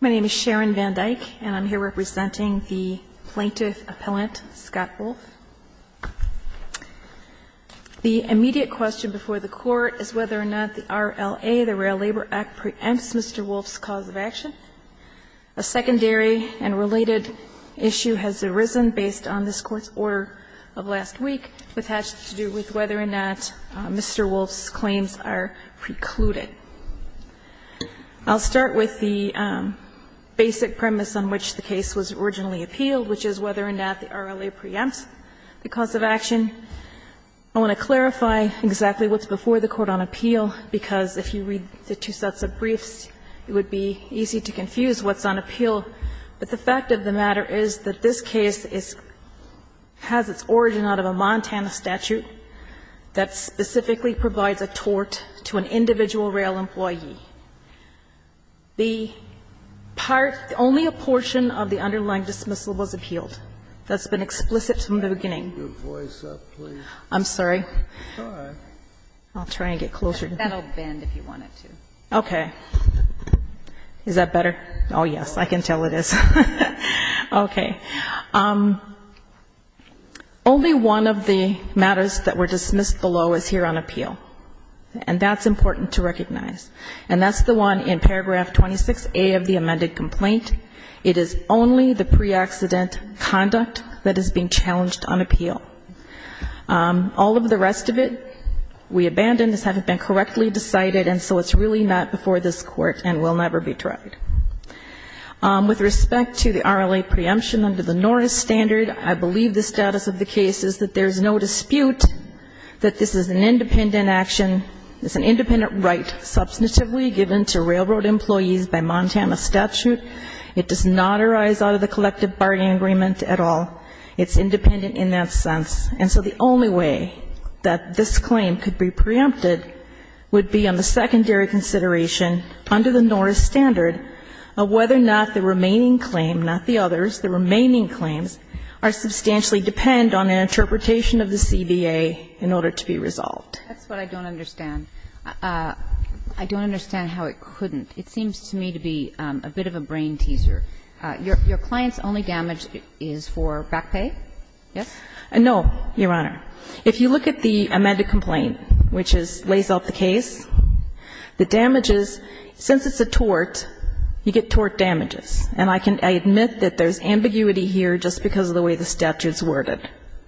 My name is Sharon Van Dyke, and I'm here representing the plaintiff appellant, Scott Wolfe. The immediate question before the Court is whether or not the RLA, the Rail Labor Act, preempts Mr. Wolfe's cause of action. A secondary and related issue has arisen based on this Court's order of last week, which has to do with whether or not Mr. Wolfe's claims are precluded. I'll start with the basic premise on which the case was originally appealed, which is whether or not the RLA preempts the cause of action. I want to clarify exactly what's before the Court on appeal, because if you read the two sets of briefs, it would be easy to confuse what's on appeal. But the fact of the matter is that this case is – has its origin out of a Montana statute that specifically provides a tort to an individual rail employee. The part – only a portion of the underlying dismissal was appealed. That's been explicit from the beginning. I'm sorry. I'll try and get closer. That'll bend if you want it to. Okay. Is that better? Oh, yes. I can tell it is. Okay. Only one of the matters that were dismissed below is here on appeal, and that's important to recognize. And that's the one in paragraph 26A of the amended complaint. It is only the pre-accident conduct that is being challenged on appeal. All of the rest of it we abandoned. This hasn't been correctly decided, and so it's really not before this Court and will never be tried. With respect to the RLA preemption under the Norris standard, I believe the status of the case is that there is no dispute that this is an independent action. It's an independent right substantively given to railroad employees by Montana statute. It does not arise out of the collective bargaining agreement at all. It's independent in that sense. And so the only way that this claim could be preempted would be on the secondary consideration under the Norris standard of whether or not the remaining claim, not the others, the remaining claims, substantially depend on an interpretation of the CBA in order to be resolved. That's what I don't understand. I don't understand how it couldn't. It seems to me to be a bit of a brain teaser. Your client's only damage is for back pay? Yes? No, Your Honor. If you look at the amended complaint, which lays out the case, the damages, since it's a tort, you get tort damages. And I can admit that there's ambiguity here just because of the way the statute is worded.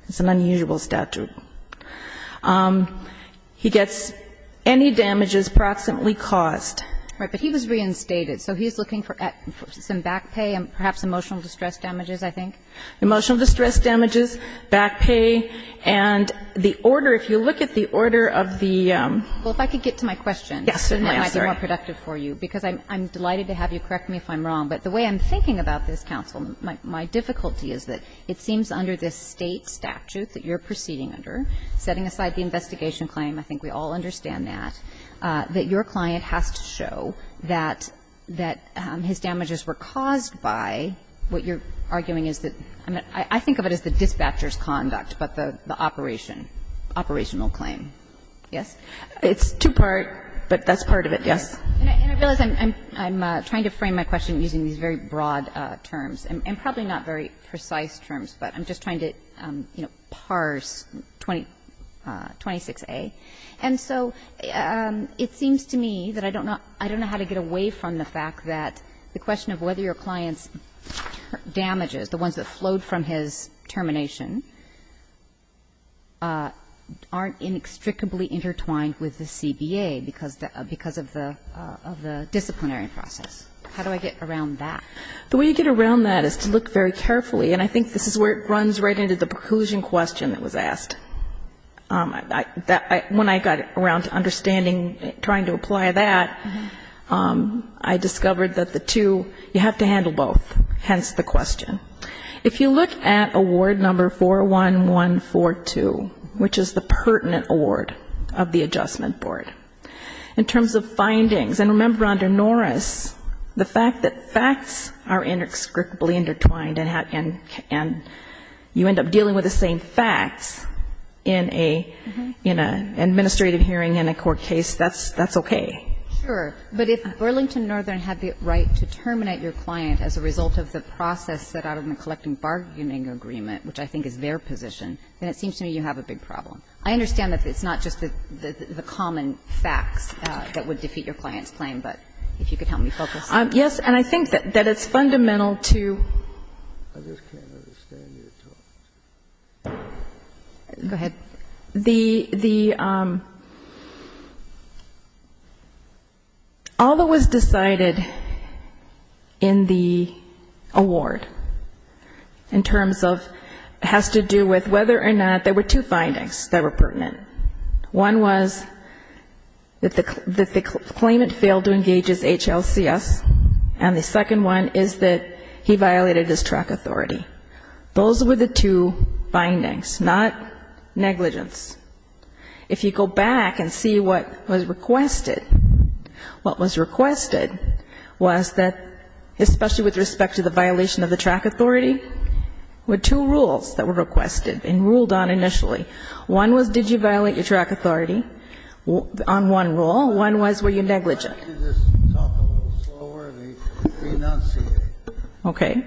It's an unusual statute. He gets any damages proximately caused. Right. But he was reinstated. So he's looking for some back pay and perhaps emotional distress damages, I think? Emotional distress damages, back pay. And the order, if you look at the order of the ---- Well, if I could get to my question, it might be more productive for you. Yes, certainly. Because I'm delighted to have you correct me if I'm wrong. But the way I'm thinking about this, counsel, my difficulty is that it seems under this State statute that you're proceeding under, setting aside the investigation claim, I think we all understand that, that your client has to show that his damages were caused by what you're arguing is the ---- I think of it as the dispatcher's conduct, but the operation, operational claim. Yes? It's two-part, but that's part of it, yes. And I realize I'm trying to frame my question using these very broad terms, and probably not very precise terms, but I'm just trying to, you know, parse 26A. And so it seems to me that I don't know how to get away from the fact that the question of whether your client's damages, the ones that flowed from his termination, aren't inextricably intertwined with the CBA because of the disciplinary process. How do I get around that? The way you get around that is to look very carefully. And I think this is where it runs right into the preclusion question that was asked. When I got around to understanding, trying to apply that, I discovered that the two, you have to handle both, hence the question. If you look at award number 41142, which is the pertinent award of the Adjustment Board, in terms of findings, and remember under Norris, the fact that facts are inextricably intertwined and you end up dealing with the same facts, in an administrative hearing in a court case, that's okay. Sure. But if Burlington Northern had the right to terminate your client as a result of the process set out in the collecting bargaining agreement, which I think is their position, then it seems to me you have a big problem. I understand that it's not just the common facts that would defeat your client's claim, but if you could help me focus. Yes. And I think that it's fundamental to. I just can't understand your talk. Go ahead. The, all that was decided in the award, in terms of, has to do with whether or not, there were two findings that were pertinent. One was that the claimant failed to engage his HLCS, and the second one is that he violated the track authority. Those were the two findings, not negligence. If you go back and see what was requested, what was requested was that, especially with respect to the violation of the track authority, were two rules that were requested and ruled on initially. One was did you violate your track authority on one rule. One was were you negligent. If you could just talk a little slower, they may not see it. Okay.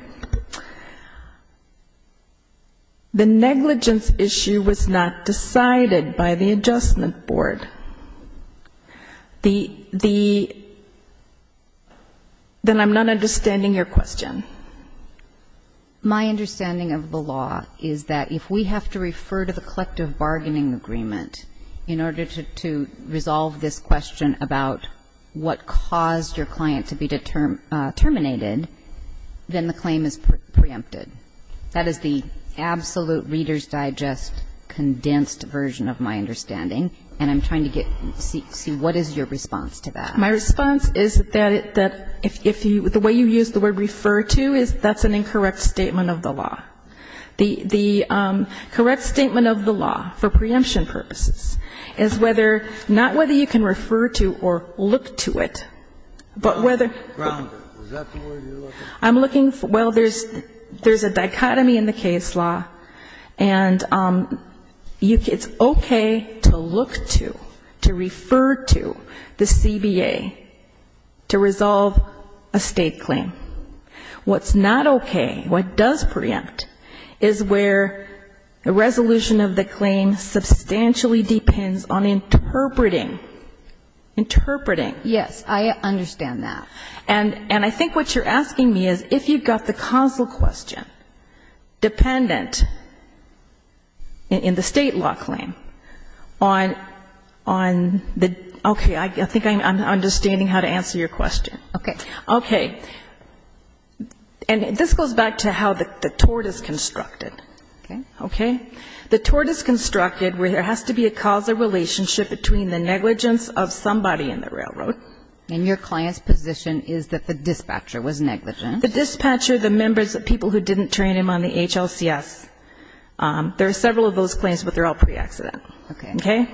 The negligence issue was not decided by the adjustment board. The, the, then I'm not understanding your question. My understanding of the law is that if we have to refer to the collective bargaining agreement in order to resolve this question about what caused your client to be terminated, then the claim is preempted. That is the absolute Reader's Digest condensed version of my understanding. And I'm trying to get, see what is your response to that. My response is that if you, the way you use the word refer to is that's an incorrect statement of the law. The, the correct statement of the law for preemption purposes is whether, not whether you can refer to or look to it, but whether. Grounded. Is that the word you're looking for? I'm looking for, well, there's, there's a dichotomy in the case law. And you, it's okay to look to, to refer to the CBA to resolve a State claim. What's not okay, what does preempt is where the resolution of the claim substantially depends on interpreting, interpreting. Yes, I understand that. And, and I think what you're asking me is if you've got the causal question dependent in, in the State law claim on, on the, okay, I think I'm, I'm understanding how to answer your question. Okay. Okay. And this goes back to how the, the tort is constructed. Okay. Okay. The tort is constructed where there has to be a causal relationship between the negligence of somebody in the railroad. And your client's position is that the dispatcher was negligent. The dispatcher, the members, the people who didn't train him on the HLCS. There are several of those claims, but they're all pre-accidental. Okay. Okay.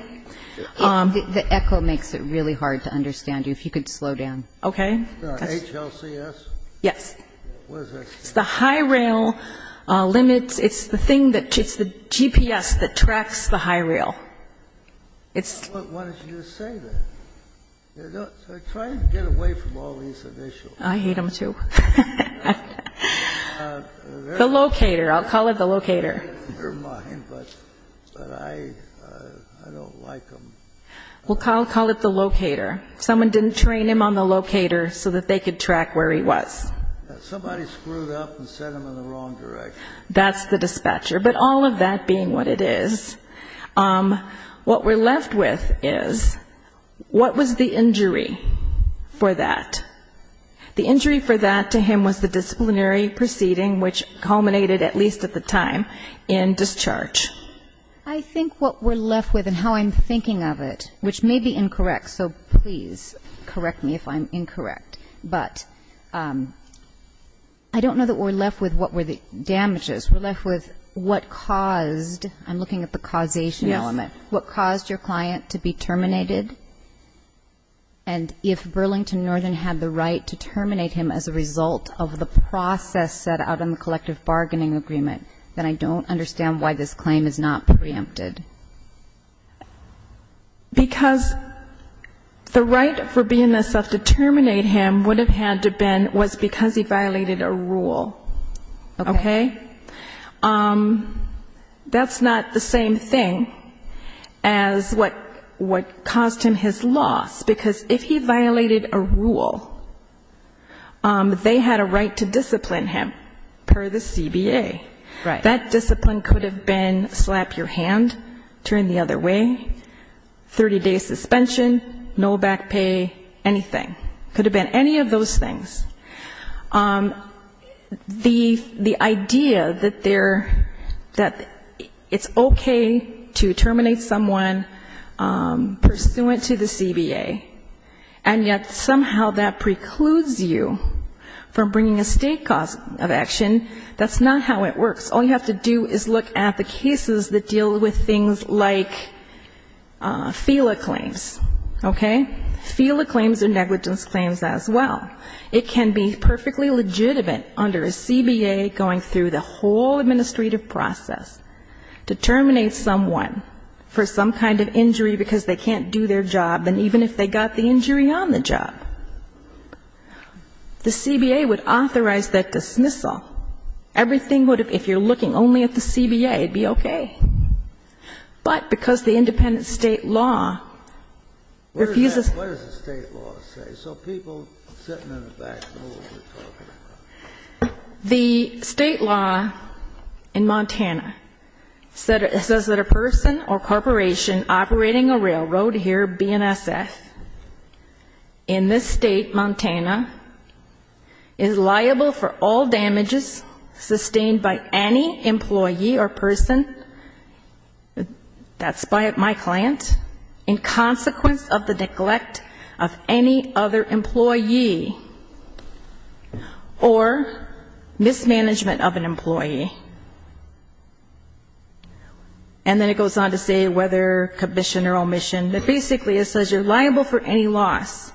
The echo makes it really hard to understand you. If you could slow down. Okay. The HLCS? Yes. What does that say? It's the high rail limits. It's the thing that, it's the GPS that tracks the high rail. It's. Why don't you just say that? They're trying to get away from all these initials. I hate them, too. The locator. I'll call it the locator. They're mine, but, but I, I don't like them. Well, I'll call it the locator. Someone didn't train him on the locator so that they could track where he was. Somebody screwed up and sent him in the wrong direction. That's the dispatcher. But all of that being what it is, what we're left with is what was the injury for that? The injury for that to him was the disciplinary proceeding, which culminated at least at the time, in discharge. I think what we're left with and how I'm thinking of it, which may be incorrect, so please correct me if I'm incorrect. But I don't know that we're left with what were the damages. We're left with what caused, I'm looking at the causation element, what caused your client to be terminated. And if Burlington Northern had the right to terminate him as a result of the process set out in the collective bargaining agreement, then I don't understand why this claim is not preempted. Because the right for BNSF to terminate him would have had to have been was because he violated a rule. Okay? That's not the same thing as what caused him his loss. Because if he violated a rule, they had a right to discipline him per the CBA. Right. And that discipline could have been slap your hand, turn the other way, 30-day suspension, no back pay, anything. Could have been any of those things. The idea that it's okay to terminate someone pursuant to the CBA, and yet somehow that precludes you from bringing a state cause of action, that's not how it works. All you have to do is look at the cases that deal with things like FELA claims. Okay? FELA claims are negligence claims as well. It can be perfectly legitimate under a CBA going through the whole administrative process, to terminate someone for some kind of injury because they can't do their job, even if they got the injury on the job. The CBA would authorize that dismissal. Everything would, if you're looking only at the CBA, it would be okay. But because the independent state law refuses to... What does the state law say? So people sitting in the back know what we're talking about. The state law in Montana says that a person or corporation operating a railroad here, BNSF, in this state, Montana, is liable for all damages sustained by any employee or person, that's by my client, in consequence of the neglect of any other employee or mismanagement of an employee. And then it goes on to say whether commission or omission. But basically it says you're liable for any loss.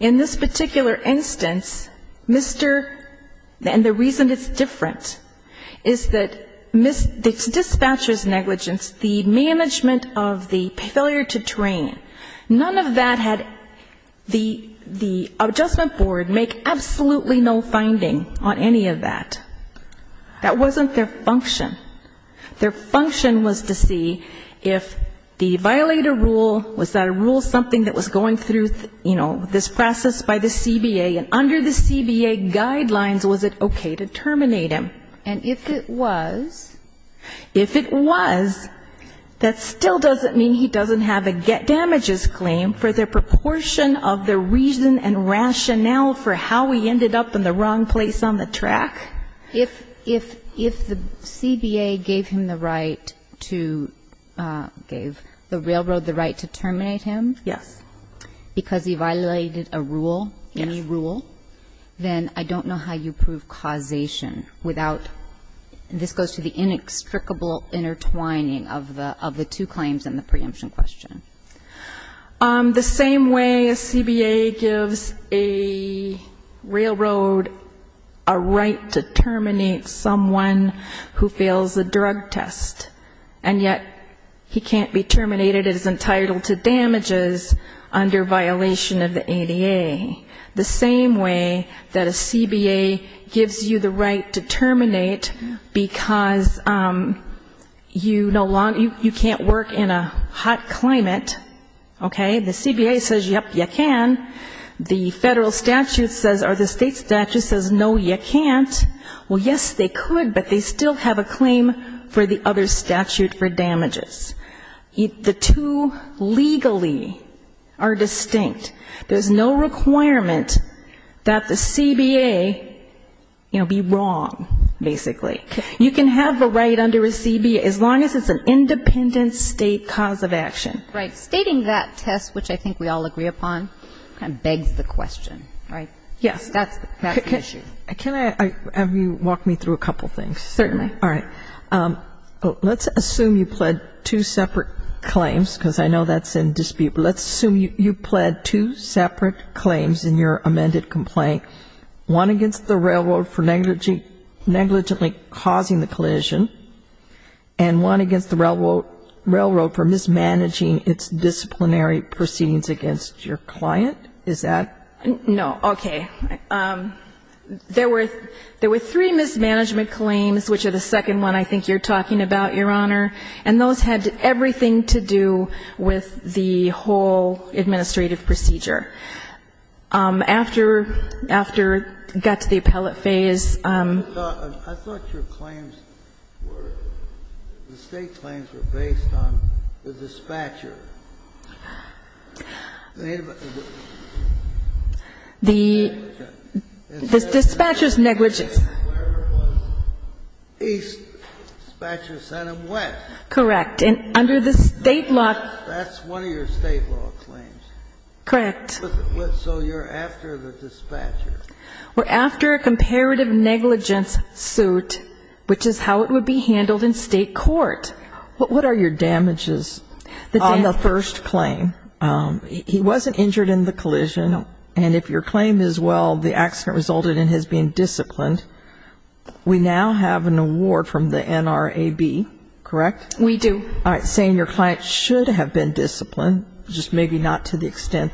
In this particular instance, Mr. and the reason it's different is that the dispatcher's negligence, the management of the failure to train, none of that had the adjustment board make absolutely no finding on any of that. That wasn't their function. Their function was to see if the violator rule, was that a rule something that was going through, you know, this process by the CBA, and under the CBA guidelines, was it okay to terminate him? And if it was... If it was, that still doesn't mean he doesn't have a get damages claim for the proportion of the reason and rationale for how he ended up in the wrong place on the track. If the CBA gave him the right to, gave the railroad the right to terminate him... Yes. ...because he violated a rule, any rule, then I don't know how you prove causation without, this goes to the inextricable intertwining of the two claims in the preemption question. The same way a CBA gives a railroad a right to terminate someone who fails a drug test, and yet he can't be terminated as entitled to damages under violation of the ADA. The same way that a CBA gives you the right to terminate because you no longer, you can't work in a hot climate, okay? The CBA says, yep, you can. The federal statute says, or the state statute says, no, you can't. Well, yes, they could, but they still have a claim for the other statute for damages. The two legally are distinct. There's no requirement that the CBA, you know, be wrong, basically. You can have a right under a CBA as long as it's an independent state cause of action. Right. Stating that test, which I think we all agree upon, kind of begs the question, right? Yes. That's the issue. Can I have you walk me through a couple things? Certainly. All right. Let's assume you pled two separate claims, because I know that's in dispute. Let's assume you pled two separate claims in your amended complaint, one against the railroad for negligently causing the collision, and one against the railroad for mismanaging its disciplinary proceedings against your client. Is that? No. Okay. There were three mismanagement claims, which are the second one I think you're talking about, Your Honor, and those had everything to do with the whole administrative procedure. After we got to the appellate phase ---- I thought your claims were, the State claims were based on the dispatcher. The dispatcher's negligence. East, dispatcher sent him west. Correct. And under the State law ---- That's one of your State law claims. Correct. So you're after the dispatcher. We're after a comparative negligence suit, which is how it would be handled in State court. What are your damages on the first claim? He wasn't injured in the collision, and if your claim is, well, the accident resulted in his being disciplined, we now have an award from the NRAB, correct? We do. All right. Saying your client should have been disciplined, just maybe not to the accident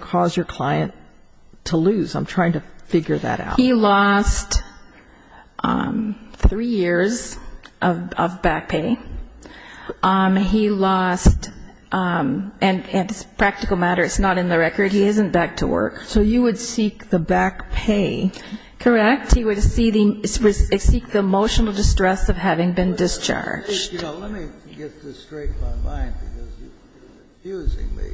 caused your client to lose? I'm trying to figure that out. He lost three years of back pay. He lost, and it's a practical matter, it's not in the record, he isn't back to work. So you would seek the back pay. Correct. He would seek the emotional distress of having been discharged. You know, let me get this straight in my mind, because you're confusing me.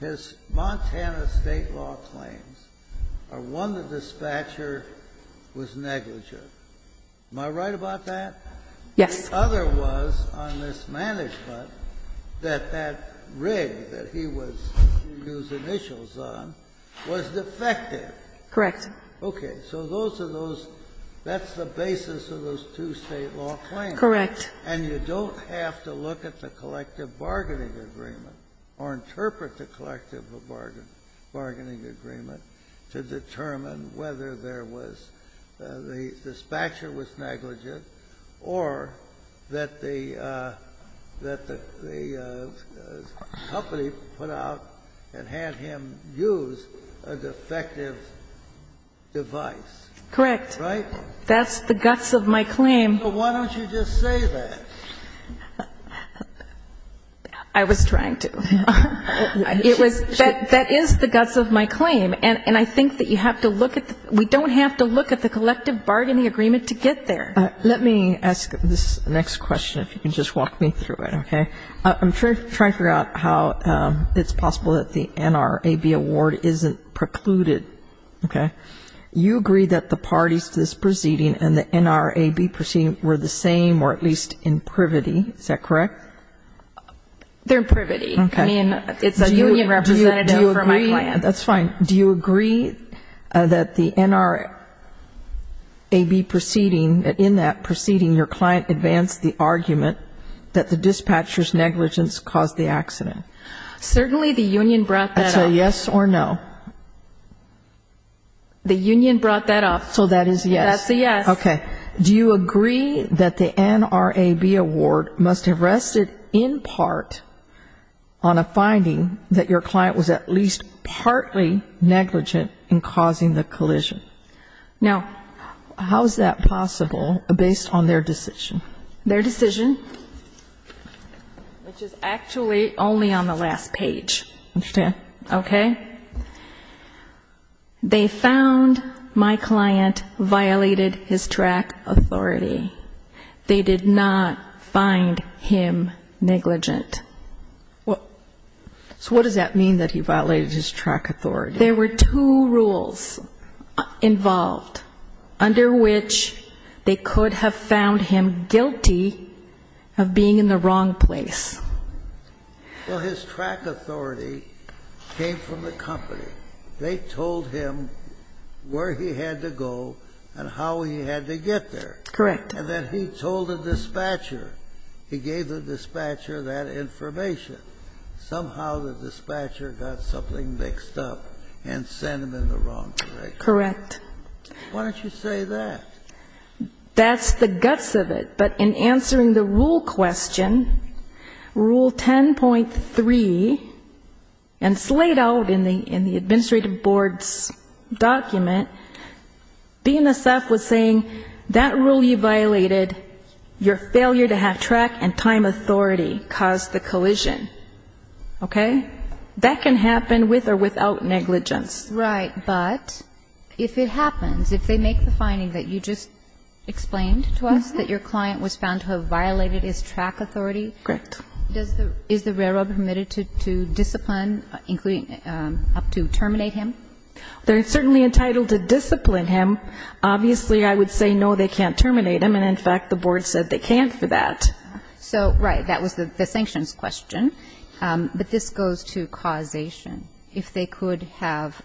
His Montana State law claims are one, the dispatcher was negligent. Am I right about that? Yes. The other was, on mismanagement, that that rig that he was using initials on was defective. Correct. Okay. So those are those ---- that's the basis of those two State law claims. Correct. And you don't have to look at the collective bargaining agreement or interpret the collective bargaining agreement to determine whether there was the dispatcher was negligent or that the company put out and had him use a defective device. Correct. Right? That's the guts of my claim. But why don't you just say that? I was trying to. It was ---- that is the guts of my claim. And I think that you have to look at the ---- we don't have to look at the collective bargaining agreement to get there. Let me ask this next question, if you can just walk me through it, okay? I'm trying to figure out how it's possible that the NRAB award isn't precluded, okay? You agree that the parties to this proceeding and the NRAB proceeding were the same or at least in privity, is that correct? They're in privity. Okay. I mean, it's a union representative for my client. That's fine. Do you agree that the NRAB proceeding, in that proceeding your client advanced the argument that the dispatcher's negligence caused the accident? Certainly the union brought that up. So yes or no? The union brought that up. So that is yes. That's a yes. Okay. Do you agree that the NRAB award must have rested in part on a finding that your client was at least partly negligent in causing the collision? No. How is that possible based on their decision? Their decision, which is actually only on the last page. I understand. Okay? They found my client violated his track authority. They did not find him negligent. So what does that mean that he violated his track authority? There were two rules involved under which they could have found him guilty of being in the wrong place. Well, his track authority came from the company. They told him where he had to go and how he had to get there. Correct. And then he told the dispatcher. He gave the dispatcher that information. Somehow the dispatcher got something mixed up and sent him in the wrong direction. Correct. Why don't you say that? That's the guts of it. But in answering the rule question, Rule 10.3, and slayed out in the administrative board's document, BNSF was saying that rule you violated, your failure to have track and time authority caused the collision. Okay? That can happen with or without negligence. Right. But if it happens, if they make the finding that you just explained to us, that your client was found to have violated his track authority, is the railroad permitted to discipline, up to terminate him? They're certainly entitled to discipline him. Obviously, I would say, no, they can't terminate him. And, in fact, the board said they can't for that. So, right. That was the sanctions question. But this goes to causation. If they could have,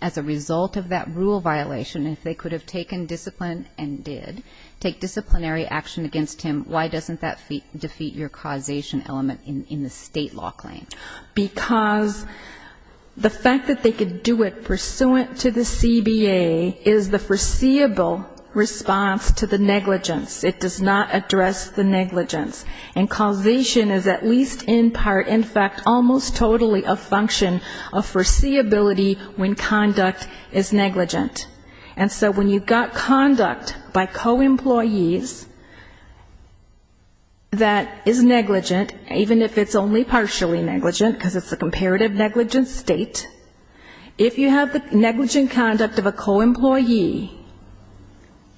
as a result of that rule violation, if they could have taken discipline and did, take disciplinary action against him, why doesn't that defeat your causation element in the state law claim? Because the fact that they could do it pursuant to the CBA is the foreseeable response to the negligence. It does not address the negligence. And causation is at least in part, in fact, almost totally a function of foreseeability when conduct is negligent. And so when you've got conduct by co-employees that is negligent, even if it's only partially negligent because it's a comparative negligent state, if you have the negligent conduct of a co-employee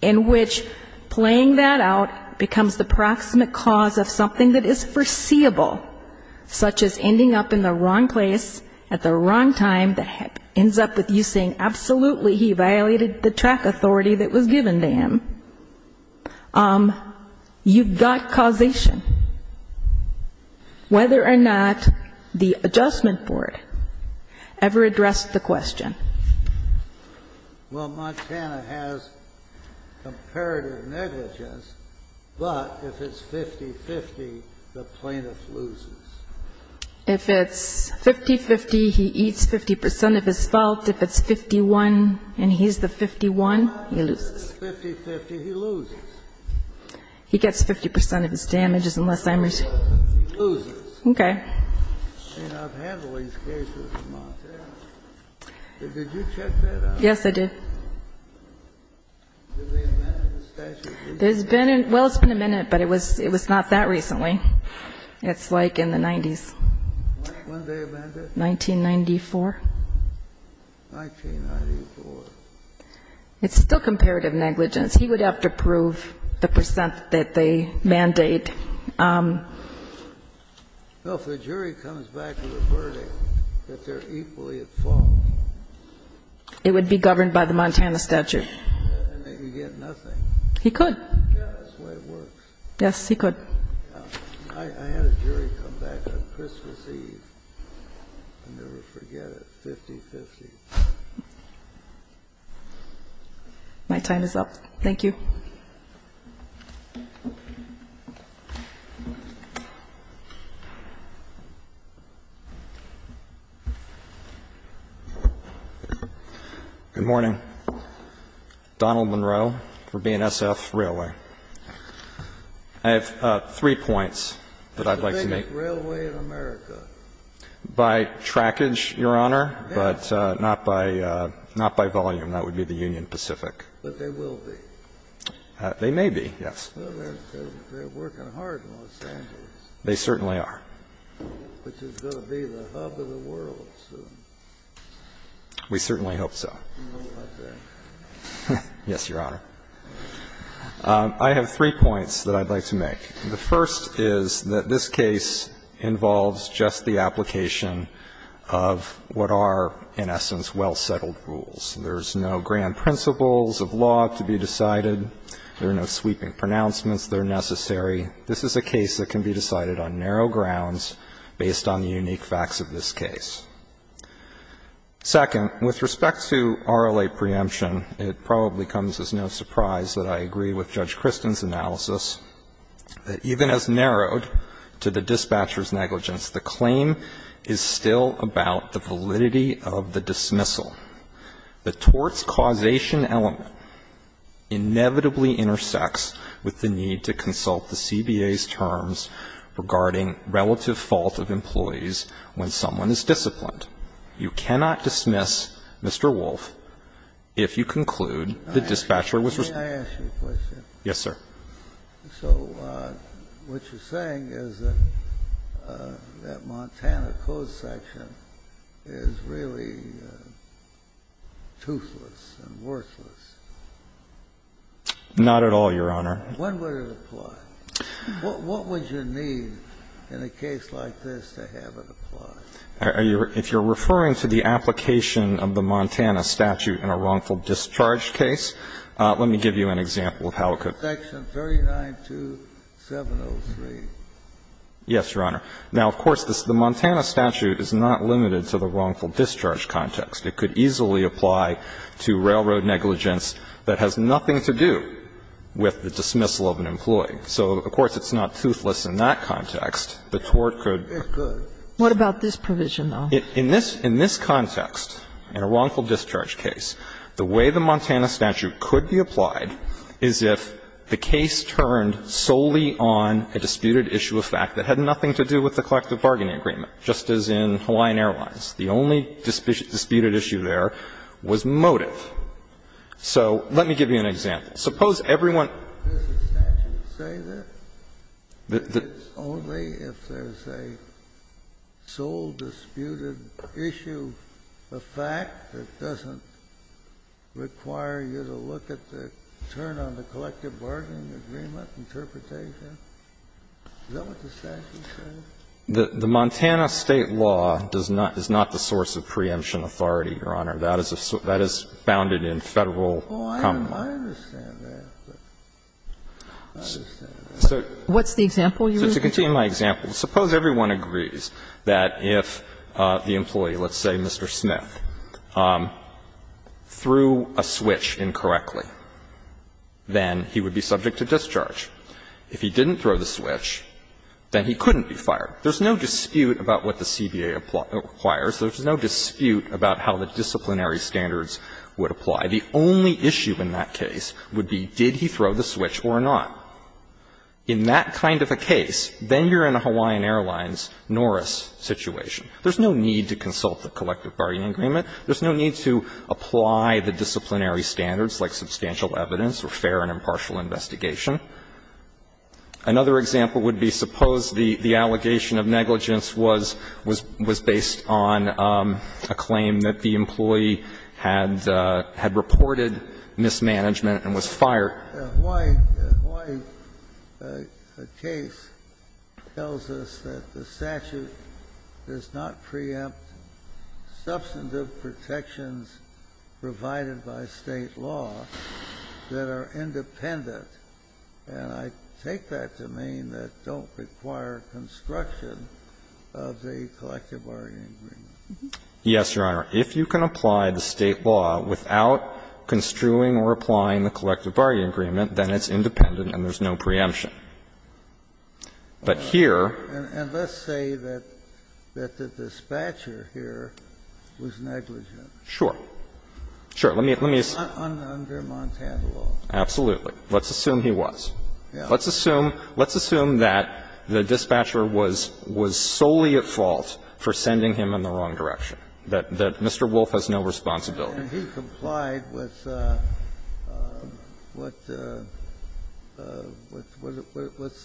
in which playing that out becomes the proximate cause of something that is foreseeable, such as ending up in the wrong place at the wrong time that ends up with you saying absolutely he violated the track authority that was given to him, you've got causation, whether or not the adjustment board ever addressed the question. Well, Montana has comparative negligence, but if it's 50-50, the plaintiff loses. If it's 50-50, he eats 50 percent of his fault. If it's 51 and he's the 51, he loses. If it's 50-50, he loses. He gets 50 percent of his damages unless I'm responsible. He loses. Okay. And I've had all these cases in Montana. Did you check that out? Yes, I did. Did they amend the statute? Well, it's been amended, but it was not that recently. It's like in the 90s. When did they amend it? 1994. 1994. It's still comparative negligence. He would have to prove the percent that they mandate. Well, if the jury comes back with a verdict that they're equally at fault. It would be governed by the Montana statute. Then he'd get nothing. He could. That's the way it works. Yes, he could. I had a jury come back on Christmas Eve. I'll never forget it. 50-50. My time is up. Thank you. Good morning. Donald Monroe for BNSF Railway. I have three points that I'd like to make. It's the biggest railway in America. By trackage, Your Honor, but not by volume. That would be the Union Pacific. But they will be. They may be, yes. They're working hard in Los Angeles. They certainly are. Which is going to be the hub of the world soon. We certainly hope so. I think. Yes, Your Honor. I have three points that I'd like to make. The first is that this case involves just the application of what are, in essence, well-settled rules. There's no grand principles of law to be decided. There are no sweeping pronouncements that are necessary. This is a case that can be decided on narrow grounds based on the unique facts of this case. Second, with respect to RLA preemption, it probably comes as no surprise that I agree with Judge Kristen's analysis that even as narrowed to the dispatcher's negligence, the claim is still about the validity of the dismissal. The torts causation element inevitably intersects with the need to consult the CBA's terms regarding relative fault of employees when someone is disciplined. You cannot dismiss Mr. Wolf if you conclude the dispatcher was responsible. May I ask you a question? Yes, sir. So what you're saying is that Montana Code section is really toothless and worthless. Not at all, Your Honor. When would it apply? What would you need in a case like this to have it apply? If you're referring to the application of the Montana statute in a wrongful discharge case, let me give you an example of how it could. Section 39-2703. Yes, Your Honor. Now, of course, the Montana statute is not limited to the wrongful discharge context. It could easily apply to railroad negligence that has nothing to do with the dismissal of an employee. So, of course, it's not toothless in that context. The tort could. It could. What about this provision, though? In this context, in a wrongful discharge case, the way the Montana statute could be applied is if the case turned solely on a disputed issue of fact that had nothing to do with the collective bargaining agreement, just as in Hawaiian Airlines. The only disputed issue there was motive. So let me give you an example. Suppose everyone Does the statute say that? That it's only if there's a sole disputed issue of fact that doesn't require you to look at the turn on the collective bargaining agreement interpretation? Is that what the statute says? The Montana State law does not the source of preemption authority, Your Honor. That is founded in Federal common law. Oh, I understand that. I understand that. What's the example you're using? So to continue my example, suppose everyone agrees that if the employee, let's say Mr. Smith, threw a switch incorrectly, then he would be subject to discharge. If he didn't throw the switch, then he couldn't be fired. There's no dispute about what the CBA requires. There's no dispute about how the disciplinary standards would apply. The only issue in that case would be did he throw the switch or not. In that kind of a case, then you're in a Hawaiian Airlines Norris situation. There's no need to consult the collective bargaining agreement. There's no need to apply the disciplinary standards like substantial evidence or fair and impartial investigation. Another example would be suppose the allegation of negligence was based on a claim that the employee had reported mismanagement and was fired. The Hawaii case tells us that the statute does not preempt substantive protections provided by State law that are independent. And I take that to mean that don't require construction of the collective bargaining agreement. Yes, Your Honor. If you can apply the State law without construing or applying the collective bargaining agreement, then it's independent and there's no preemption. But here -- And let's say that the dispatcher here was negligent. Sure. Sure. Let me assume. Under Montana law. Absolutely. Let's assume he was. Let's assume that the dispatcher was solely at fault for sending him in the wrong direction, that Mr. Wolf has no responsibility. And he complied with what's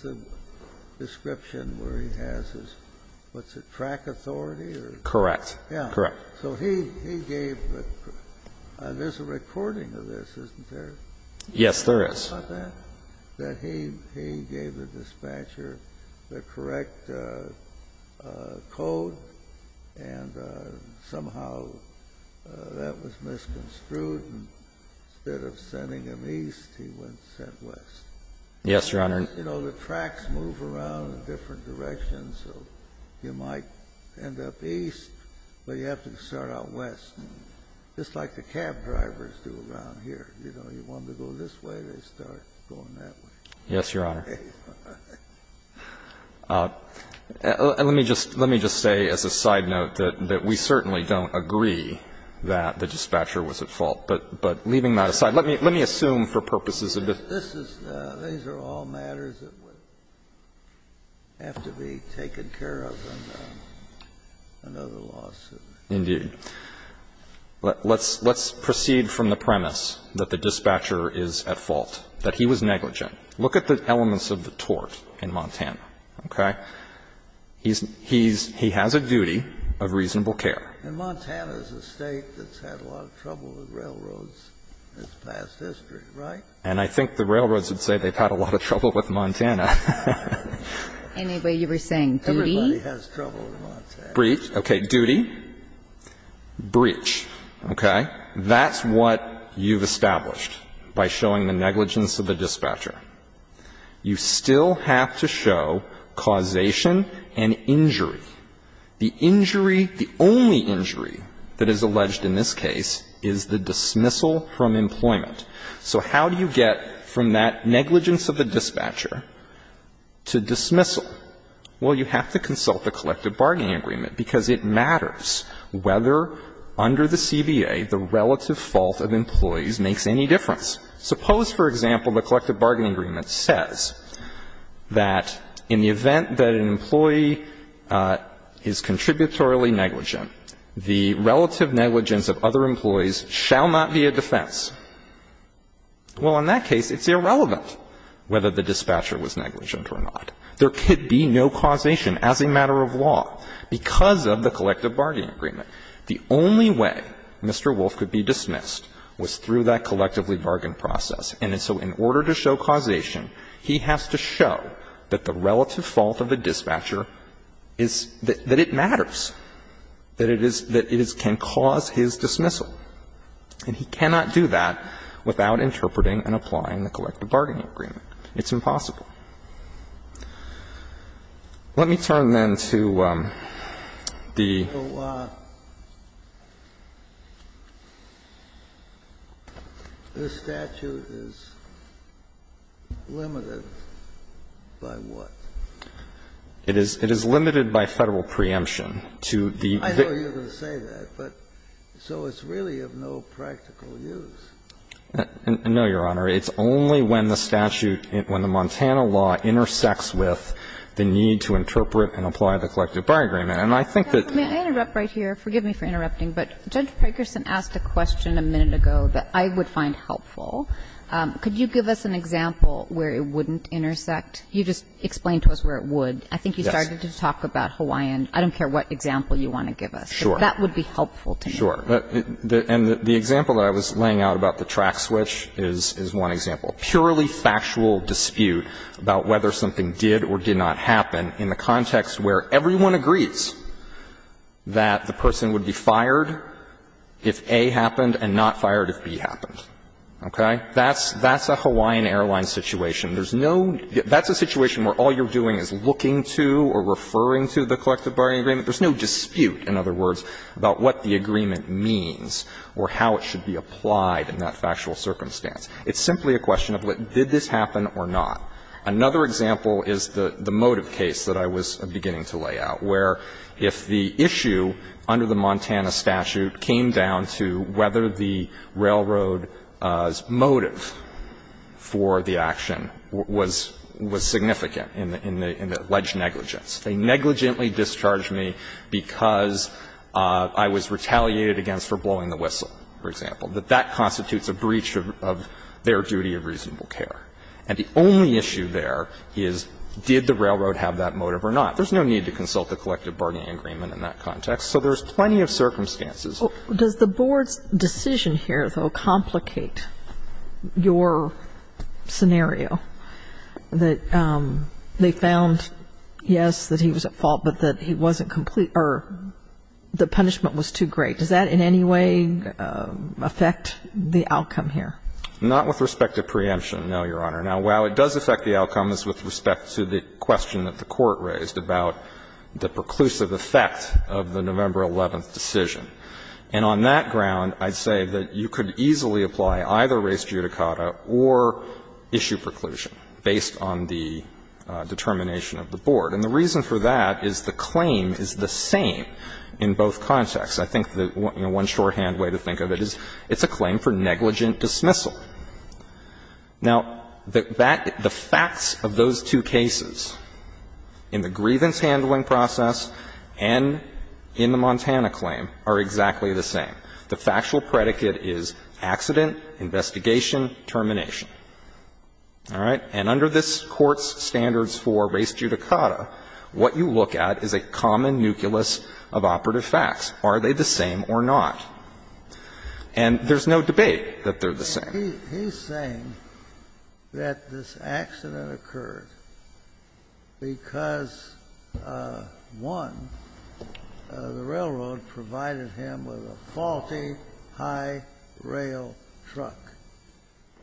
the description where he has his, what's it, track authority? Correct. Yeah. Correct. So he gave the -- there's a recording of this, isn't there? Yes, there is. That he gave the dispatcher the correct code and somehow that was misconstrued. Instead of sending him east, he went west. Yes, Your Honor. You know, the tracks move around in different directions. So you might end up east, but you have to start out west. Just like the cab drivers do around here. You know, you want to go this way, they start going that way. Yes, Your Honor. Let me just say as a side note that we certainly don't agree that the dispatcher was at fault. But leaving that aside, let me assume for purposes of this. These are all matters that would have to be taken care of in another lawsuit. Indeed. Let's proceed from the premise that the dispatcher is at fault, that he was negligent. Look at the elements of the tort in Montana, okay? He has a duty of reasonable care. And Montana is a State that's had a lot of trouble with railroads in its past history, right? And I think the railroads would say they've had a lot of trouble with Montana. Anyway, you were saying duty? Everybody has trouble in Montana. That's breach. Okay. Duty? Breach. Okay? That's what you've established by showing the negligence of the dispatcher. You still have to show causation and injury. The injury, the only injury that is alleged in this case is the dismissal from employment. So how do you get from that negligence of the dispatcher to dismissal? Well, you have to consult the collective bargaining agreement, because it matters whether, under the CBA, the relative fault of employees makes any difference. Suppose, for example, the collective bargaining agreement says that in the event that an employee is contributorily negligent, the relative negligence of other employees shall not be a defense. Well, in that case, it's irrelevant whether the dispatcher was negligent or not. There could be no causation as a matter of law because of the collective bargaining agreement. The only way Mr. Wolff could be dismissed was through that collectively bargain process. And so in order to show causation, he has to show that the relative fault of a dispatcher is that it matters, that it is, that it can cause his dismissal. And he cannot do that without interpreting and applying the collective bargaining agreement. It's impossible. Let me turn, then, to the the statute is limited by what? It is limited by Federal preemption. I know you're going to say that, but so it's really of no practical use. No, Your Honor. It's only when the statute, when the Montana law intersects with the need to interpret and apply the collective bargaining agreement. And I think that. May I interrupt right here? Forgive me for interrupting. But Judge Parkerson asked a question a minute ago that I would find helpful. Could you give us an example where it wouldn't intersect? You just explained to us where it would. I think you started to talk about Hawaiian. I don't care what example you want to give us. That would be helpful to me. Sure. And the example that I was laying out about the track switch is one example. Purely factual dispute about whether something did or did not happen in the context where everyone agrees that the person would be fired if A happened and not fired if B happened. Okay? That's a Hawaiian Airlines situation. There's no – that's a situation where all you're doing is looking to or referring to the collective bargaining agreement. There's no dispute, in other words, about what the agreement means or how it should be applied in that factual circumstance. It's simply a question of did this happen or not. Another example is the motive case that I was beginning to lay out, where if the issue under the Montana statute came down to whether the railroad's motive for the action was significant in the alleged negligence. They negligently discharged me because I was retaliated against for blowing the whistle, for example. That that constitutes a breach of their duty of reasonable care. And the only issue there is did the railroad have that motive or not. There's no need to consult the collective bargaining agreement in that context. So there's plenty of circumstances. Does the board's decision here, though, complicate your scenario that they found, yes, that he was at fault, but that he wasn't complete or the punishment was too great? Does that in any way affect the outcome here? Not with respect to preemption, no, Your Honor. Now, while it does affect the outcome, it's with respect to the question that the court raised about the preclusive effect of the November 11th decision. And on that ground, I'd say that you could easily apply either race judicata or issue preclusion based on the determination of the board. And the reason for that is the claim is the same in both contexts. I think the one shorthand way to think of it is it's a claim for negligent dismissal. Now, the facts of those two cases in the grievance handling process and in the Montana claim are exactly the same. The factual predicate is accident, investigation, termination. All right? And under this Court's standards for race judicata, what you look at is a common nucleus of operative facts. Are they the same or not? And there's no debate that they're the same. He's saying that this accident occurred because, one, the railroad provided him with a faulty high rail truck,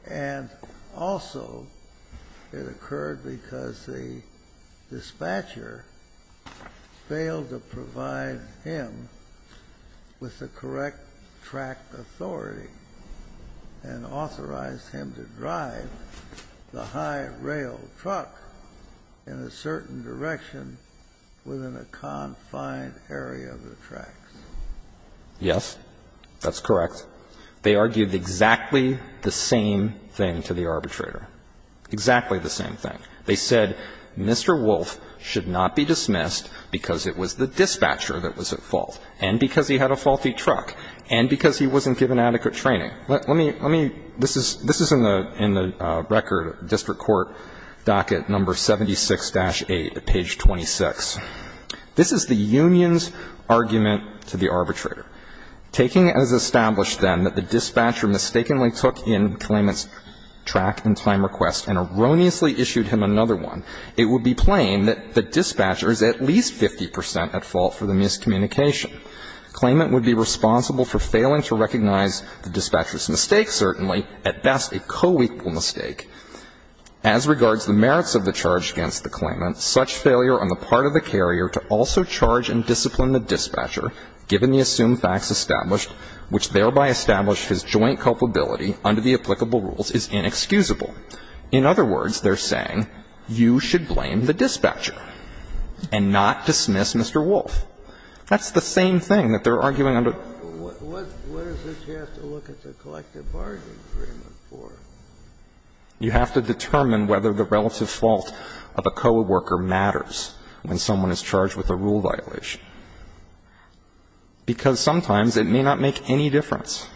and also it occurred because the dispatcher failed to provide him with the correct track authority. And authorized him to drive the high rail truck in a certain direction within a confined area of the tracks. Yes. That's correct. They argued exactly the same thing to the arbitrator. Exactly the same thing. They said Mr. Wolfe should not be dismissed because it was the dispatcher that was at fault, and because he had a faulty truck, and because he wasn't given adequate training. Let me, let me, this is, this is in the, in the record of district court docket number 76-8, page 26. This is the union's argument to the arbitrator. Taking as established, then, that the dispatcher mistakenly took in the claimant's track and time request and erroneously issued him another one, it would be plain that the dispatcher is at least 50 percent at fault for the miscommunication. The claimant would be responsible for failing to recognize the dispatcher's mistake, certainly, at best a co-equal mistake. As regards the merits of the charge against the claimant, such failure on the part of the carrier to also charge and discipline the dispatcher, given the assumed facts established, which thereby establish his joint culpability under the applicable rules, is inexcusable. In other words, they're saying you should blame the dispatcher and not dismiss Mr. Wolff. That's the same thing that they're arguing under. Kennedy. What, what, what is it you have to look at the collective bargaining agreement for? You have to determine whether the relative fault of a co-worker matters when someone is charged with a rule violation, because sometimes it may not make any difference.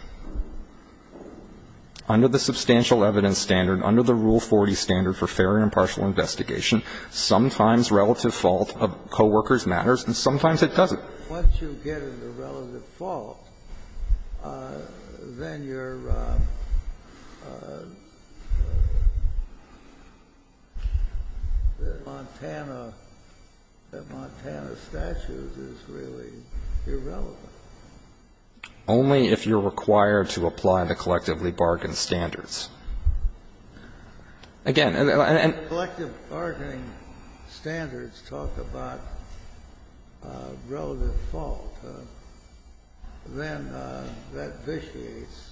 Under the substantial evidence standard, under the Rule 40 standard for fair and impartial investigation, sometimes relative fault of co-workers matters, and sometimes it doesn't. Once you get into relative fault, then you're, Montana, the Montana statute is really required to apply the collectively bargained standards. Again, and the collective bargaining standards talk about relative fault. Then that vitiates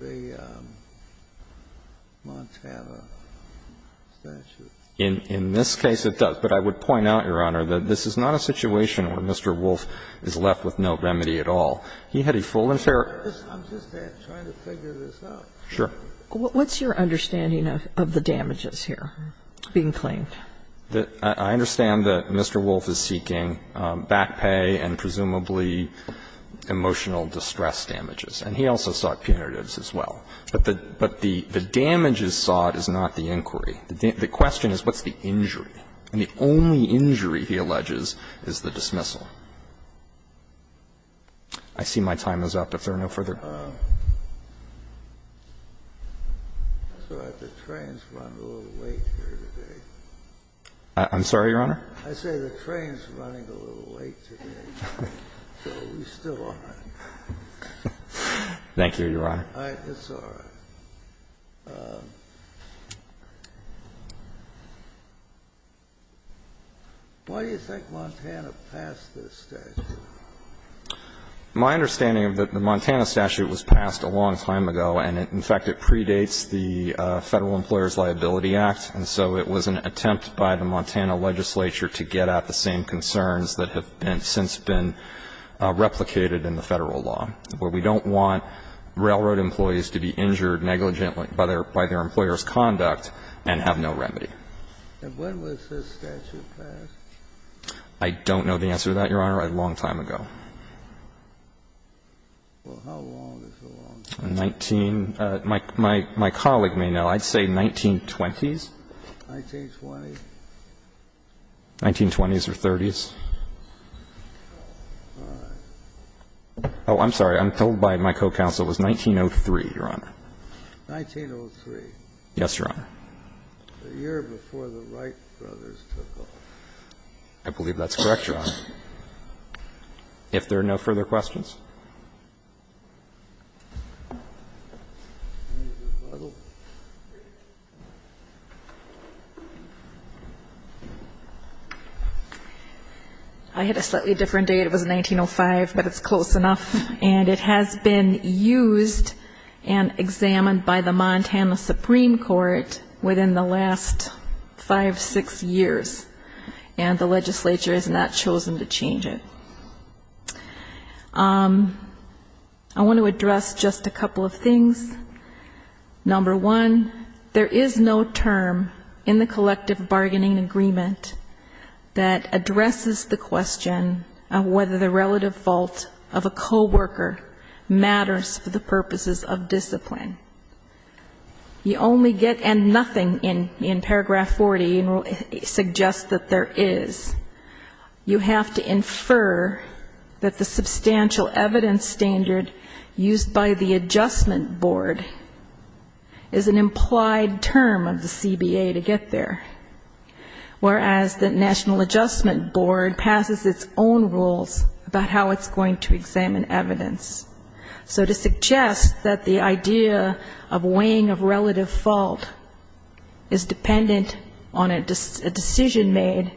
the Montana statute. In this case, it does. But I would point out, Your Honor, that this is not a situation where Mr. Wolff is left with no remedy at all. He had a full and fair. I'm just trying to figure this out. Sure. What's your understanding of the damages here being claimed? I understand that Mr. Wolff is seeking back pay and presumably emotional distress damages. And he also sought punitives as well. But the damages sought is not the inquiry. The question is, what's the injury? And the only injury, he alleges, is the dismissal. I see my time is up. If there are no further. I'm sorry, Your Honor. I say the train's running a little late today. So we still are. Thank you, Your Honor. It's all right. Why do you think Montana passed this statute? My understanding is that the Montana statute was passed a long time ago. And, in fact, it predates the Federal Employer's Liability Act. And so it was an attempt by the Montana legislature to get at the same concerns that have since been replicated in the Federal law, where we don't want railroad employees to be injured negligently by their employer's conduct and have no remedy. And when was this statute passed? I don't know the answer to that, Your Honor. A long time ago. Well, how long is a long time? Nineteen. My colleague may know. I'd say 1920s. 1920s? 1920s or 30s. All right. Oh, I'm sorry. I'm told by my co-counsel it was 1903, Your Honor. 1903. Yes, Your Honor. The year before the Wright brothers took over. I believe that's correct, Your Honor. If there are no further questions. I had a slightly different date. It was 1905, but it's close enough. And it has been used and examined by the Montana Supreme Court within the last five, six years. And the legislature has not chosen to change it. I want to address just a couple of things. Number one, there is no term in the collective bargaining agreement that addresses the question of whether the relative fault of a co-worker matters for the purposes of discipline. You only get, and nothing in paragraph 40 suggests that there is. You have to infer that the substantial evidence standard used by the adjustment board is an implied term of the CBA to get there. Whereas the national adjustment board passes its own rules about how it's going to examine evidence. So to suggest that the idea of weighing of relative fault is dependent on a decision made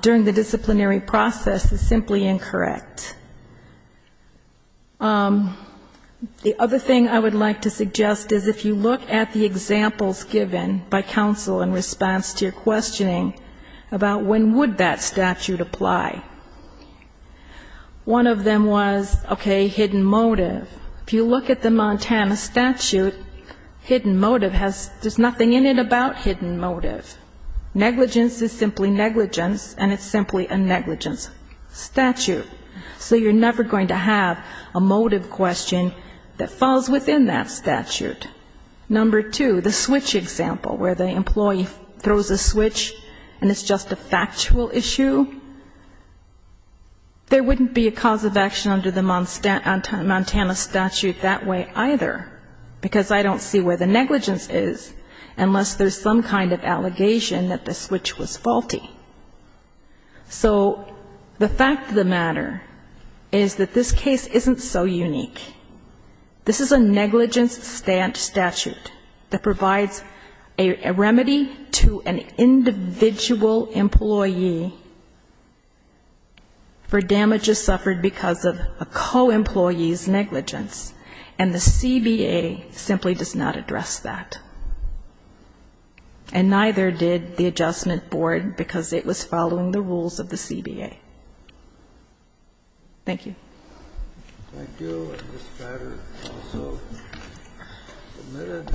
during the disciplinary process is simply incorrect. The other thing I would like to suggest is if you look at the examples given by counsel in response to your questioning about when would that statute apply. One of them was, okay, hidden motive. If you look at the Montana statute, hidden motive has, there's nothing in it without hidden motive. Negligence is simply negligence and it's simply a negligence statute. So you're never going to have a motive question that falls within that statute. Number two, the switch example where the employee throws a switch and it's just a factual issue. There wouldn't be a cause of action under the Montana statute that way either because I don't see where the negligence is unless there's some kind of allegation that the switch was faulty. So the fact of the matter is that this case isn't so unique. This is a negligence statute that provides a remedy to an individual employee for negligence. The CBA simply does not address that. And neither did the Adjustment Board because it was following the rules of the CBA. Thank you. Thank you. This matter is also submitted.